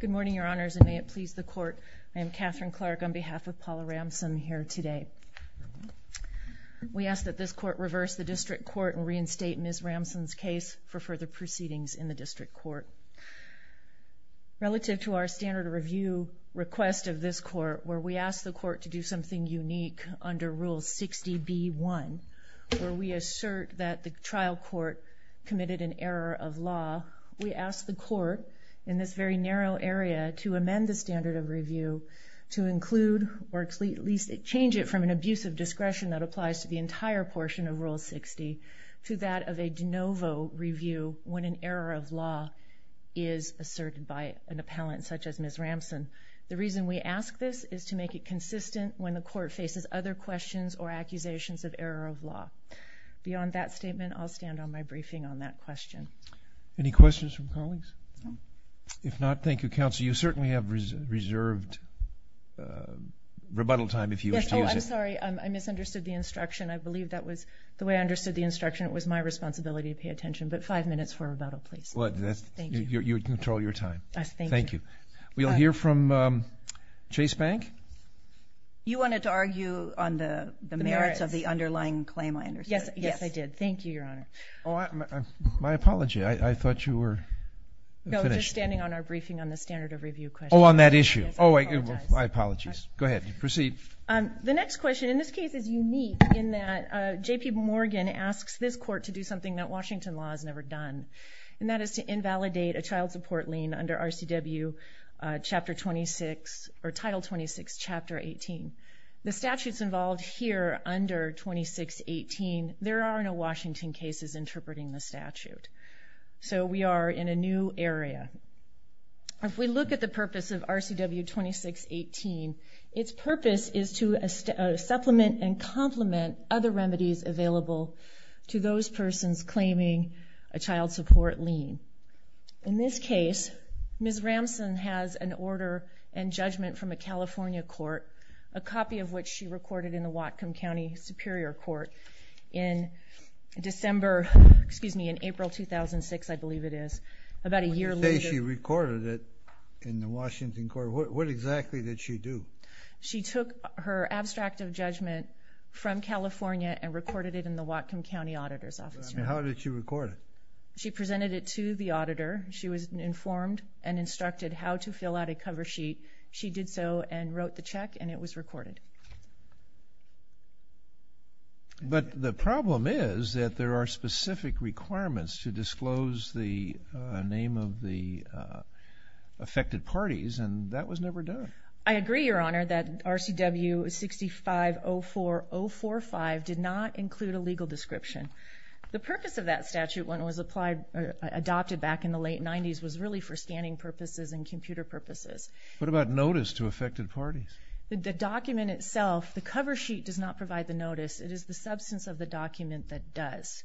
Good morning, Your Honors, and may it please the Court, I am Katherine Clark on behalf of Paula Ramsum here today. We ask that this Court reverse the District Court and reinstate Ms. Ramsum's case for further proceedings in the District Court. Relative to our standard review request of this Court, where we ask the Court to do something unique under Rule 60b-1, where we assert that the trial court committed an error of law, we ask the Court, in this very narrow area, to amend the standard of review to include or at least change it from an abuse of discretion that applies to the entire portion of Rule 60 to that of a de novo review when an error of law is asserted by an appellant such as Ms. Ramsum. The reason we ask this is to make it consistent when the Court faces other questions or accusations of error of law. Beyond that statement, I'll stand on my briefing on that question. Any questions from colleagues? No. If not, thank you, Counsel. You certainly have reserved rebuttal time if you wish to use it. Yes, oh, I'm sorry. I misunderstood the instruction. I believe that was the way I understood the instruction. It was my responsibility to pay attention. But five minutes for rebuttal, please. Thank you. You control your time. Thank you. We'll hear from Chase Bank. You wanted to argue on the merits of the underlying claim, I understand. Yes, I did. Thank you, Your Honor. My apology. I thought you were finished. No, just standing on our briefing on the standard of review question. Oh, on that issue. Oh, I apologize. My apologies. Go ahead. Proceed. The next question in this case is unique in that J.P. Morgan asks this Court to do something that Washington law has never done, and that is to invalidate a child support lien under RCW Title 26, Chapter 18. The statutes involved here under 2618, there are no Washington cases interpreting the statute. So we are in a new area. If we look at the purpose of RCW 2618, its purpose is to supplement and complement other remedies available to those persons claiming a child support lien. In this case, Ms. Ramson has an order and judgment from a California court, a copy of which she recorded in the Whatcom County Superior Court in April 2006, I believe it is, about a year later. You say she recorded it in the Washington court. What exactly did she do? She took her abstract of judgment from California and recorded it in the Whatcom County Auditor's Office. How did she record it? She presented it to the auditor. She was informed and instructed how to fill out a cover sheet. She did so and wrote the check, and it was recorded. But the problem is that there are specific requirements to disclose the name of the affected parties, and that was never done. I agree, Your Honor, that RCW 6504045 did not include a legal description. The purpose of that statute, when it was adopted back in the late 90s, was really for scanning purposes and computer purposes. What about notice to affected parties? The document itself, the cover sheet does not provide the notice. It is the substance of the document that does.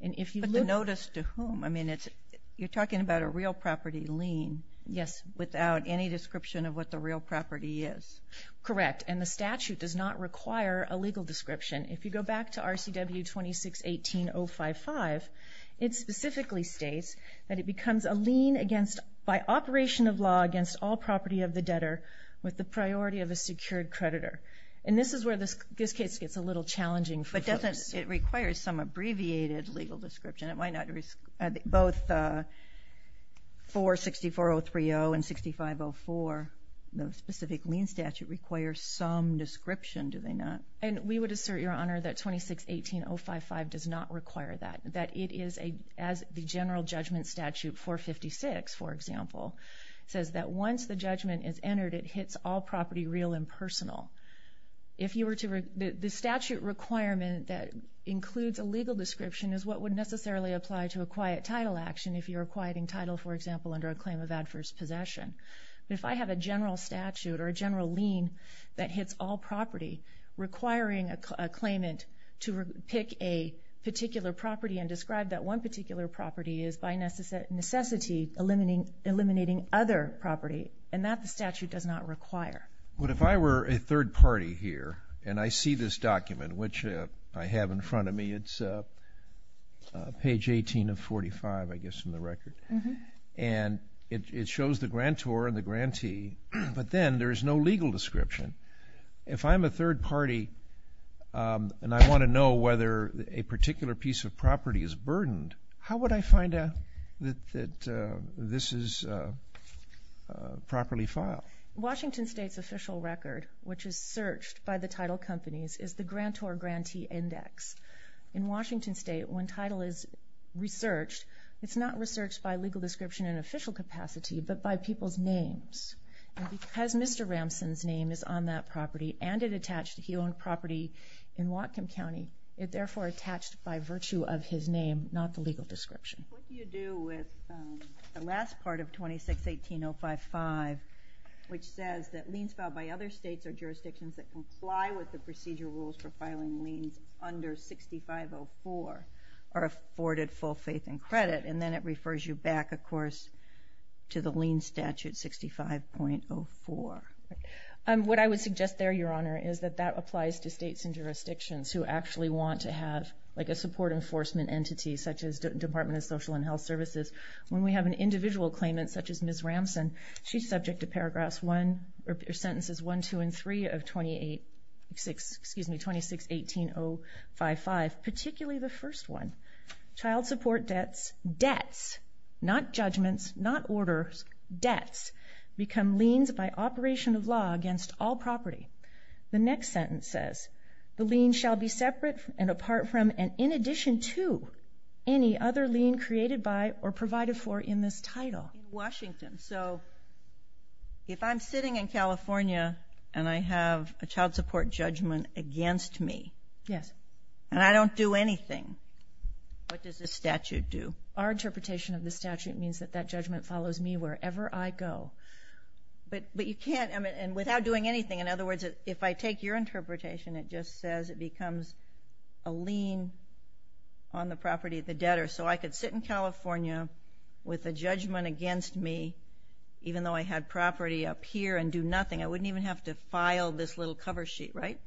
But the notice to whom? I mean, you're talking about a real property lien without any description of what the real property is. Correct, and the statute does not require a legal description. If you go back to RCW 2618055, it specifically states that it becomes a lien by operation of law against all property of the debtor with the priority of a secured creditor. And this is where this case gets a little challenging for folks. But doesn't it require some abbreviated legal description? Both 464030 and 6504, the specific lien statute, require some description, do they not? And we would assert, Your Honor, that 2618055 does not require that. As the general judgment statute, 456, for example, says that once the judgment is entered, it hits all property real and personal. The statute requirement that includes a legal description is what would necessarily apply to a quiet title action if you're quieting title, for example, under a claim of adverse possession. But if I have a general statute or a general lien that hits all property requiring a claimant to pick a particular property and describe that one particular property is by necessity eliminating other property, and that the statute does not require. But if I were a third party here and I see this document, which I have in front of me, it's page 18 of 45, I guess, from the record. And it shows the grantor and the grantee, but then there is no legal description. If I'm a third party and I want to know whether a particular piece of property is burdened, how would I find out that this is properly filed? Washington State's official record, which is searched by the title companies, is the grantor-grantee index. In Washington State, when title is researched, it's not researched by legal description in official capacity, but by people's names. And because Mr. Ramson's name is on that property and it attached to he owned property in Whatcom County, it therefore attached by virtue of his name, not the legal description. What do you do with the last part of 2618.055, which says that liens filed by other states or jurisdictions that comply with the procedure rules for filing liens under 6504 are afforded full faith and credit? And then it refers you back, of course, to the lien statute 65.04. What I would suggest there, Your Honor, is that that applies to states and jurisdictions who actually want to have, like a support enforcement entity such as Department of Social and Health Services. When we have an individual claimant such as Ms. Ramson, she's subject to sentences 1, 2, and 3 of 2618.055, particularly the first one. Child support debts, debts, not judgments, not orders, debts, become liens by operation of law against all property. The next sentence says, the lien shall be separate and apart from and in addition to any other lien created by or provided for in this title. In Washington, so if I'm sitting in California and I have a child support judgment against me. Yes. And I don't do anything, what does the statute do? Our interpretation of the statute means that that judgment follows me wherever I go. But you can't, and without doing anything. In other words, if I take your interpretation, it just says it becomes a lien on the property of the debtor. So I could sit in California with a judgment against me, even though I had property up here, and do nothing. I wouldn't even have to file this little cover sheet, right?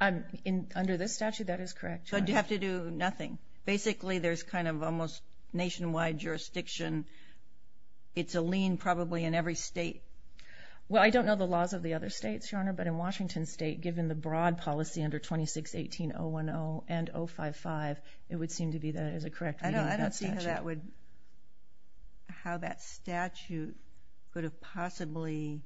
Under this statute, that is correct, Your Honor. So I'd have to do nothing. Basically, there's kind of almost nationwide jurisdiction. It's a lien probably in every state. Well, I don't know the laws of the other states, Your Honor. But in Washington State, given the broad policy under 2618.010 and 055, it would seem to be that it is a correct reading of that statute. I don't see how that would, how that statute could have possibly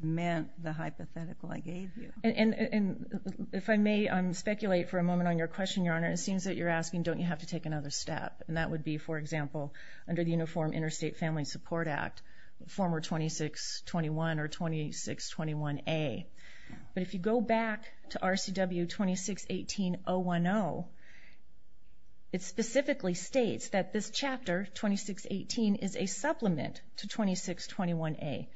meant the hypothetical I gave you. And if I may speculate for a moment on your question, Your Honor, it seems that you're asking, don't you have to take another step? And that would be, for example, under the Uniform Interstate Family Support Act, former 2621 or 2621A. But if you go back to RCW 2618.010, it specifically states that this chapter, 2618, is a supplement to 2621A.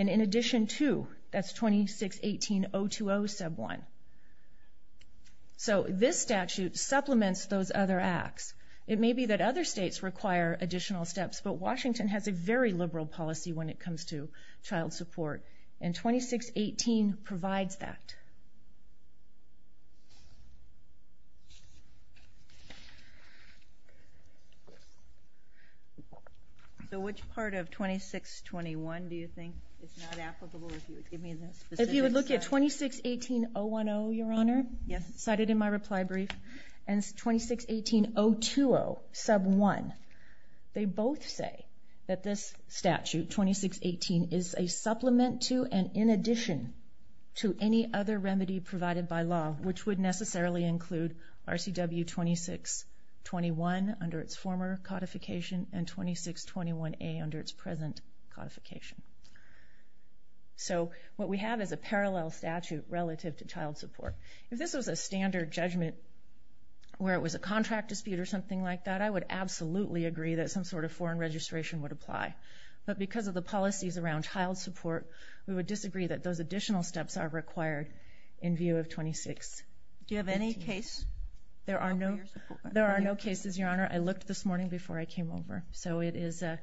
And in addition to, that's 2618.020 sub 1. So this statute supplements those other acts. It may be that other states require additional steps, but Washington has a very liberal policy when it comes to child support. And 2618 provides that. So which part of 2621 do you think is not applicable, if you would give me the specific slide? If you would look at 2618.010, Your Honor, cited in my reply brief, and 2618.020 sub 1, they both say that this statute, 2618, is a supplement to and in addition to any other remedy provided by law, which would necessarily include RCW 2621 under its former codification and 2621A under its present codification. So what we have is a parallel statute relative to child support. If this was a standard judgment where it was a contract dispute or something like that, I would absolutely agree that some sort of foreign registration would apply. But because of the policies around child support, we would disagree that those additional steps are required in view of 26. Do you have any case? There are no cases, Your Honor. I looked this morning before I came over, so it is a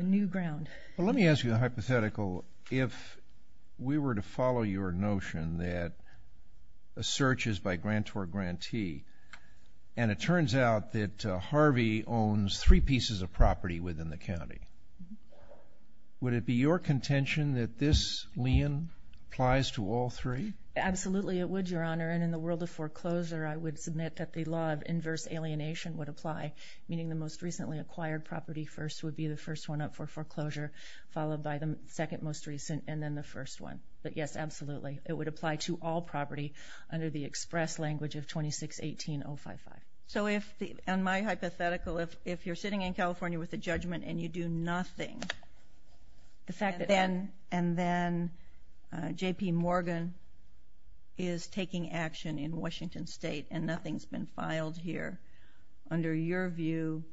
new ground. Well, let me ask you a hypothetical. If we were to follow your notion that a search is by grant or grantee, and it turns out that Harvey owns three pieces of property within the county, would it be your contention that this lien applies to all three? Absolutely it would, Your Honor, and in the world of foreclosure, I would submit that the law of inverse alienation would apply, meaning the most recently acquired property first would be the first one up for foreclosure, followed by the second most recent, and then the first one. But, yes, absolutely, it would apply to all property under the express language of 2618.055. So if, in my hypothetical, if you're sitting in California with a judgment and you do nothing, and then J.P. Morgan is taking action in Washington State and nothing's been filed here, under your view,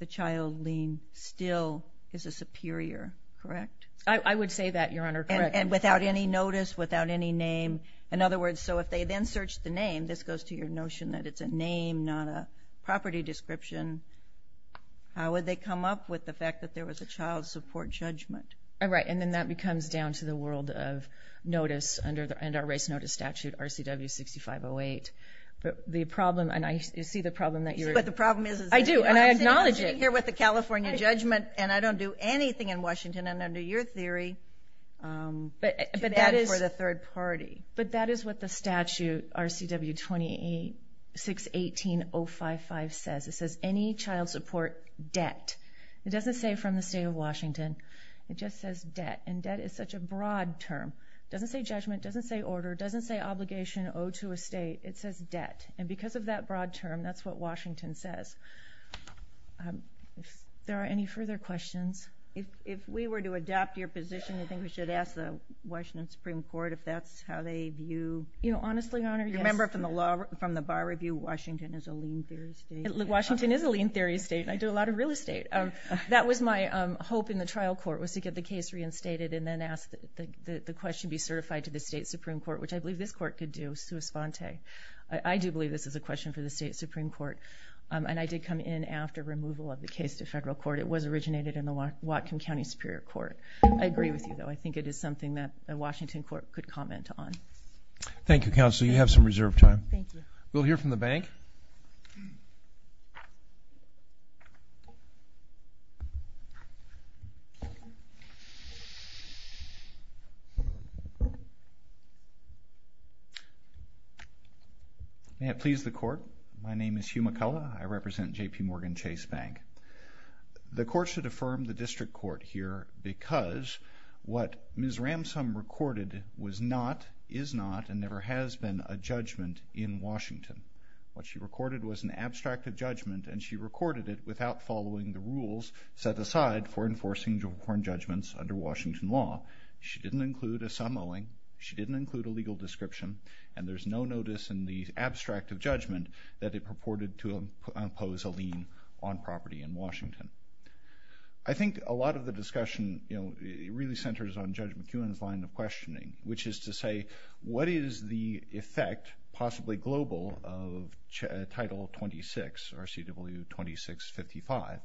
the child lien still is a superior, correct? I would say that, Your Honor, correct. And without any notice, without any name? In other words, so if they then search the name, this goes to your notion that it's a name, not a property description, how would they come up with the fact that there was a child support judgment? Right, and then that becomes down to the world of notice under our race notice statute, RCW 6508. But the problem, and I see the problem that you're... You see what the problem is? I do, and I acknowledge it. I'm sitting here with a California judgment, and I don't do anything in Washington, and under your theory, you're bad for the third party. But that is what the statute RCW 2618.055 says. It says any child support debt. It doesn't say from the state of Washington. It just says debt, and debt is such a broad term. It doesn't say judgment, it doesn't say order, it doesn't say obligation owed to a state. It says debt, and because of that broad term, that's what Washington says. There are any further questions? If we were to adopt your position, you think we should ask the Washington Supreme Court if that's how they view... You know, honestly, Your Honor, yes. Remember from the bar review, Washington is a lean theory state. Washington is a lean theory state, and I do a lot of real estate. That was my hope in the trial court was to get the case reinstated and then ask the question be certified to the state Supreme Court, which I believe this court could do, sua sponte. I do believe this is a question for the state Supreme Court, and I did come in after removal of the case to federal court. It was originated in the Whatcom County Superior Court. I agree with you, though. I think it is something that the Washington court could comment on. Thank you, Counsel. You have some reserved time. Thank you. We'll hear from the bank. May it please the court. My name is Hugh McCullough. I represent JPMorgan Chase Bank. The court should affirm the district court here because what Ms. Ramsam recorded was not, is not, and never has been a judgment in Washington. What she recorded was an abstract of judgment, and she recorded it without following the rules set aside for enforcing jubilant judgments under Washington law. She didn't include a sum owing. She didn't include a legal description, and there's no notice in the abstract of judgment that it purported to impose a lien on property in Washington. I think a lot of the discussion really centers on Judge McEwen's line of questioning, which is to say what is the effect, possibly global, of Title 26, RCW 2655?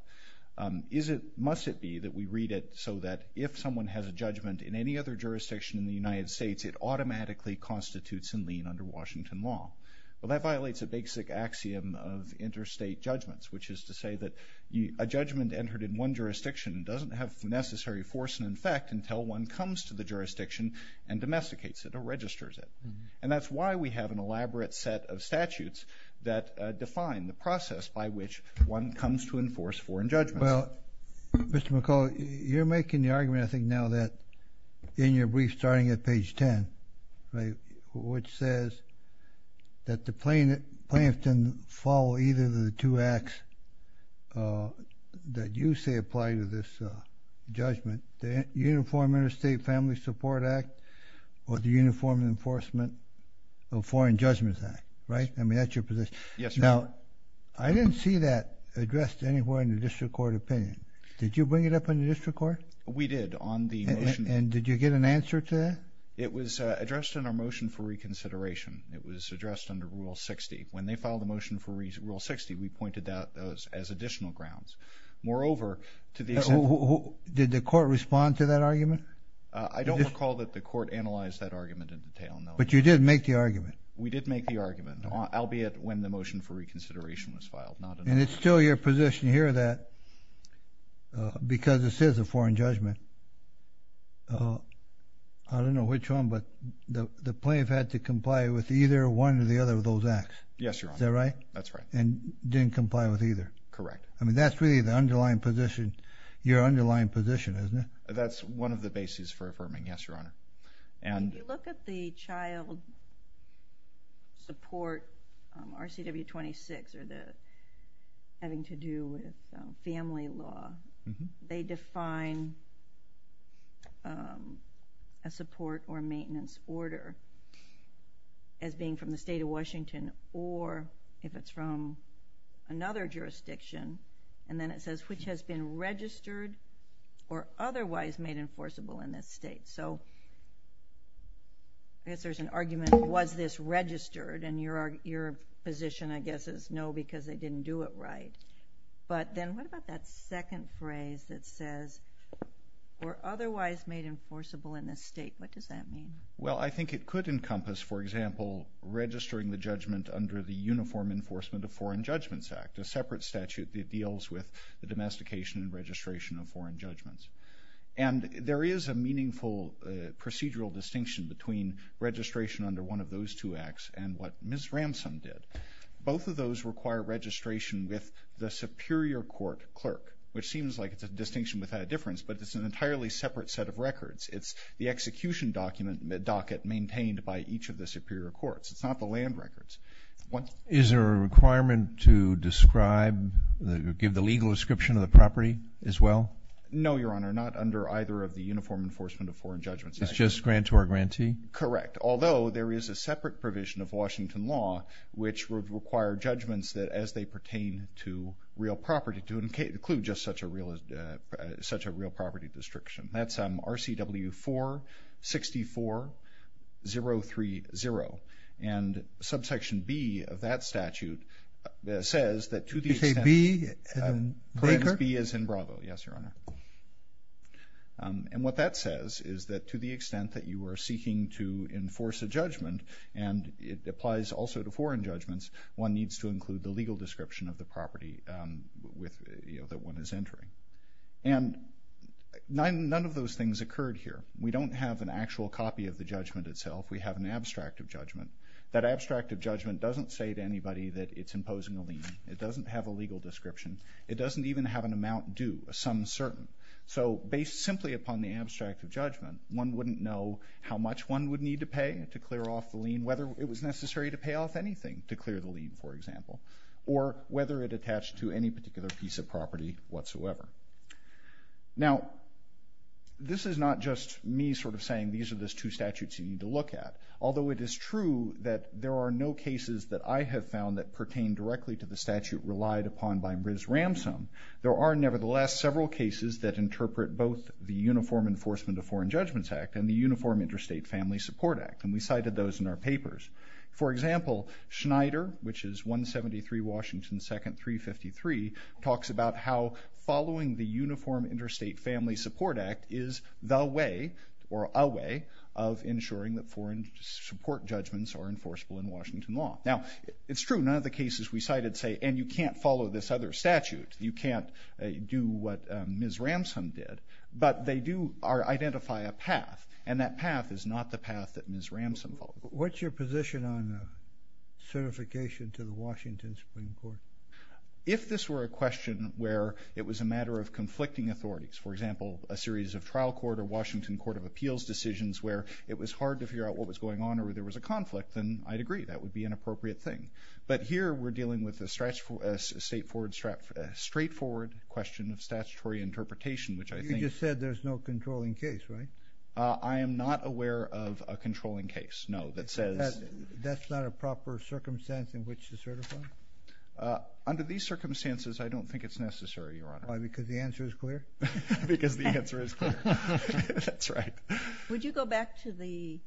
Must it be that we read it so that if someone has a judgment in any other jurisdiction in the United States, it automatically constitutes a lien under Washington law? Well, that violates a basic axiom of interstate judgments, which is to say that a judgment entered in one jurisdiction doesn't have the necessary force and effect until one comes to the jurisdiction and domesticates it or registers it. And that's why we have an elaborate set of statutes that define the process by which one comes to enforce foreign judgments. Well, Mr. McCullough, you're making the argument, I think, now that in your brief starting at page 10, which says that the plaintiff can follow either of the two acts that you say apply to this judgment, the Uniform Interstate Family Support Act or the Uniform Enforcement of Foreign Judgments Act, right? I mean, that's your position. Yes, Your Honor. Now, I didn't see that addressed anywhere in the district court opinion. Did you bring it up in the district court? We did on the motion. And did you get an answer to that? It was addressed in our motion for reconsideration. It was addressed under Rule 60. When they filed the motion for Rule 60, we pointed that out as additional grounds. Moreover, to the extent that – Did the court respond to that argument? I don't recall that the court analyzed that argument in detail, no. But you did make the argument. We did make the argument, albeit when the motion for reconsideration was filed. And it's still your position here that because this is a foreign judgment, I don't know which one, but the plaintiff had to comply with either one of the other of those acts. Yes, Your Honor. Is that right? That's right. And didn't comply with either. Correct. I mean, that's really the underlying position, your underlying position, isn't it? That's one of the bases for affirming, yes, Your Honor. If you look at the child support, RCW 26, or having to do with family law, they define a support or maintenance order as being from the state of Washington or if it's from another jurisdiction. And then it says, which has been registered or otherwise made enforceable in this state. So I guess there's an argument, was this registered? And your position, I guess, is no, because they didn't do it right. But then what about that second phrase that says, or otherwise made enforceable in this state? What does that mean? Well, I think it could encompass, for example, registering the judgment under the Uniform Enforcement of Foreign Judgments Act, a separate statute that deals with the domestication and registration of foreign judgments. And there is a meaningful procedural distinction between registration under one of those two acts and what Ms. Ramson did. Both of those require registration with the superior court clerk, which seems like it's a distinction without a difference, but it's an entirely separate set of records. It's the execution docket maintained by each of the superior courts. It's not the land records. Is there a requirement to describe, give the legal description of the property as well? No, Your Honor, not under either of the Uniform Enforcement of Foreign Judgments Act. It's just grant or grantee? Correct. Although there is a separate provision of Washington law which would require judgments as they pertain to real property to include just such a real property destruction. That's RCW 464030. And Subsection B of that statute says that to the extent that Subsection B is in Bravo, yes, Your Honor. And what that says is that to the extent that you are seeking to enforce a judgment and it applies also to foreign judgments, one needs to include the legal description of the property that one is entering. And none of those things occurred here. We don't have an actual copy of the judgment itself. We have an abstract of judgment. It doesn't have a legal description. It doesn't even have an amount due, a sum certain. So based simply upon the abstract of judgment, one wouldn't know how much one would need to pay to clear off the lien, whether it was necessary to pay off anything to clear the lien, for example, or whether it attached to any particular piece of property whatsoever. Now, this is not just me sort of saying these are the two statutes you need to look at, although it is true that there are no cases that I have found that pertain directly to the statute relied upon by Ms. Ramsam, there are nevertheless several cases that interpret both the Uniform Enforcement of Foreign Judgments Act and the Uniform Interstate Family Support Act, and we cited those in our papers. For example, Schneider, which is 173 Washington 2nd, 353, talks about how following the Uniform Interstate Family Support Act is the way or a way of ensuring that foreign support judgments are enforceable in Washington law. Now, it's true, none of the cases we cited say, and you can't follow this other statute, you can't do what Ms. Ramsam did, but they do identify a path, and that path is not the path that Ms. Ramsam followed. What's your position on certification to the Washington Supreme Court? If this were a question where it was a matter of conflicting authorities, for example, a series of trial court or Washington Court of Appeals decisions where it was hard to figure out what was going on or there was a conflict, then I'd agree that would be an appropriate thing. But here we're dealing with a straightforward question of statutory interpretation, which I think— You just said there's no controlling case, right? I am not aware of a controlling case, no, that says— That's not a proper circumstance in which to certify? Under these circumstances, I don't think it's necessary, Your Honor. Why, because the answer is clear? Because the answer is clear. That's right. Would you go back to the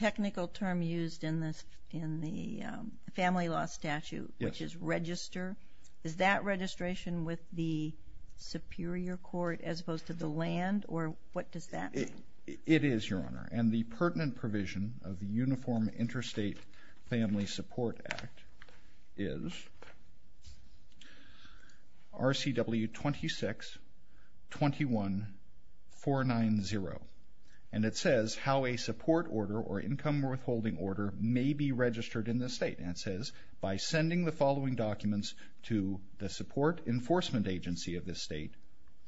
technical term used in the family law statute, which is register? Is that registration with the superior court as opposed to the land, or what does that mean? It is, Your Honor, and the pertinent provision of the Uniform Interstate Family Support Act is RCW 26-21-490, and it says how a support order or income withholding order may be registered in this state, and it says by sending the following documents to the support enforcement agency of this state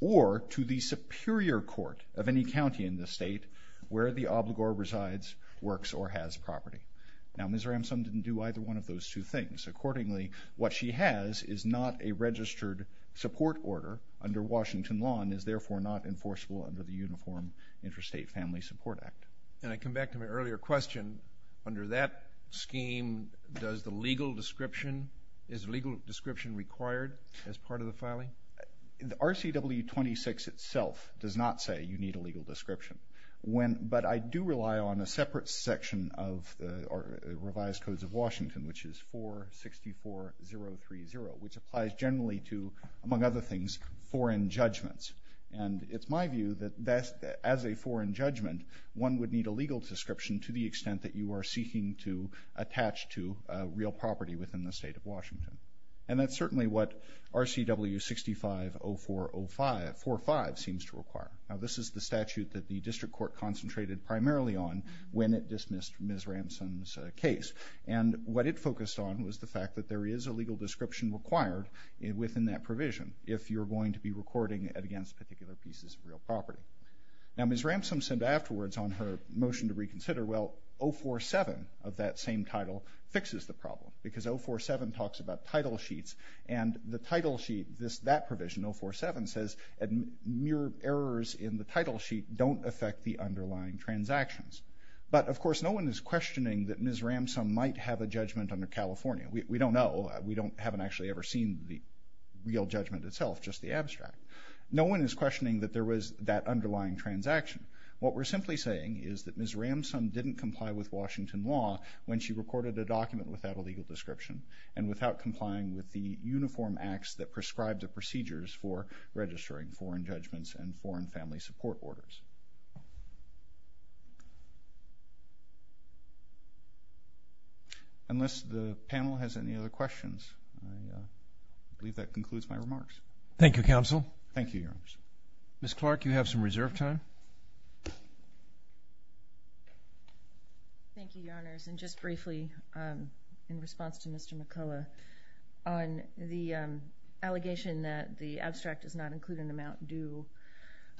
or to the superior court of any county in the state where the obligor resides, works, or has property. Now, Ms. Ramsam didn't do either one of those two things. Accordingly, what she has is not a registered support order under Washington law and is therefore not enforceable under the Uniform Interstate Family Support Act. And I come back to my earlier question. Under that scheme, does the legal description—is legal description required as part of the filing? RCW 26 itself does not say you need a legal description, but I do rely on a separate section of the revised codes of Washington, which is 464030, which applies generally to, among other things, foreign judgments. And it's my view that as a foreign judgment, one would need a legal description to the extent that you are seeking to attach to real property within the state of Washington. And that's certainly what RCW 650405—45 seems to require. Now, this is the statute that the district court concentrated primarily on when it dismissed Ms. Ramsam's case. And what it focused on was the fact that there is a legal description required within that provision if you're going to be recording against particular pieces of real property. Now, Ms. Ramsam said afterwards on her motion to reconsider, well, 047 of that same title fixes the problem because 047 talks about title sheets, and the title sheet—that provision, 047, says mere errors in the title sheet don't affect the underlying transactions. But, of course, no one is questioning that Ms. Ramsam might have a judgment under California. We don't know. We haven't actually ever seen the real judgment itself, just the abstract. No one is questioning that there was that underlying transaction. What we're simply saying is that Ms. Ramsam didn't comply with Washington law when she recorded a document without a legal description and without complying with the uniform acts that prescribe the procedures for registering foreign judgments and foreign family support orders. Unless the panel has any other questions, I believe that concludes my remarks. Thank you, Counsel. Thank you, Your Honors. Ms. Clark, you have some reserve time. Thank you, Your Honors. And just briefly, in response to Mr. McCullough, on the allegation that the abstract does not include an amount due,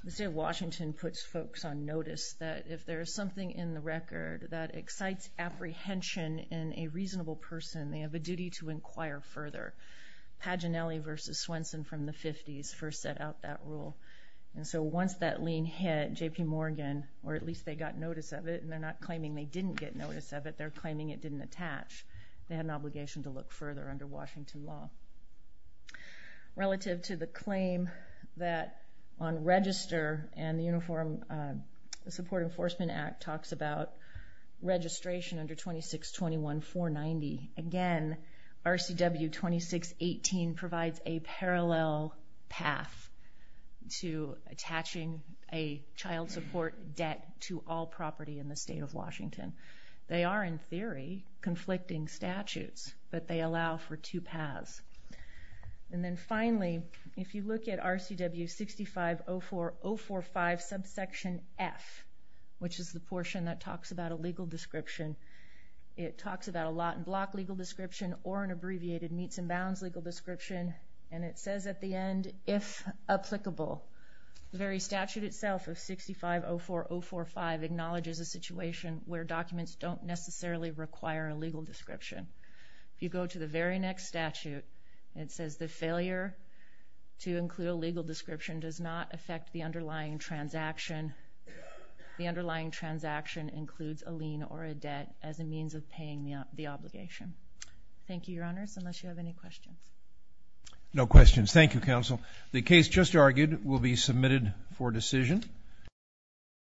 the state of Washington puts folks on notice that if there is something in the record that excites apprehension in a reasonable person, they have a duty to inquire further. Paginelli v. Swenson from the 50s first set out that rule. And so once that lien hit J.P. Morgan, or at least they got notice of it, and they're not claiming they didn't get notice of it, they're claiming it didn't attach, they had an obligation to look further under Washington law. Relative to the claim that on register and the Uniform Support Enforcement Act talks about registration under 2621-490, again, RCW 2618 provides a parallel path to attaching a child support debt to all property in the state of Washington. They are, in theory, conflicting statutes, but they allow for two paths. And then finally, if you look at RCW 6504045 subsection F, which is the portion that talks about a legal description, it talks about a lot and block legal description or an abbreviated meets and bounds legal description, and it says at the end, if applicable. The very statute itself of 6504045 acknowledges a situation where documents don't necessarily require a legal description. If you go to the very next statute, it says the failure to include a legal description does not affect the underlying transaction. The underlying transaction includes a lien or a debt as a means of paying the obligation. Thank you, Your Honors, unless you have any questions. No questions. Thank you, Counsel. The case just argued will be submitted for decision.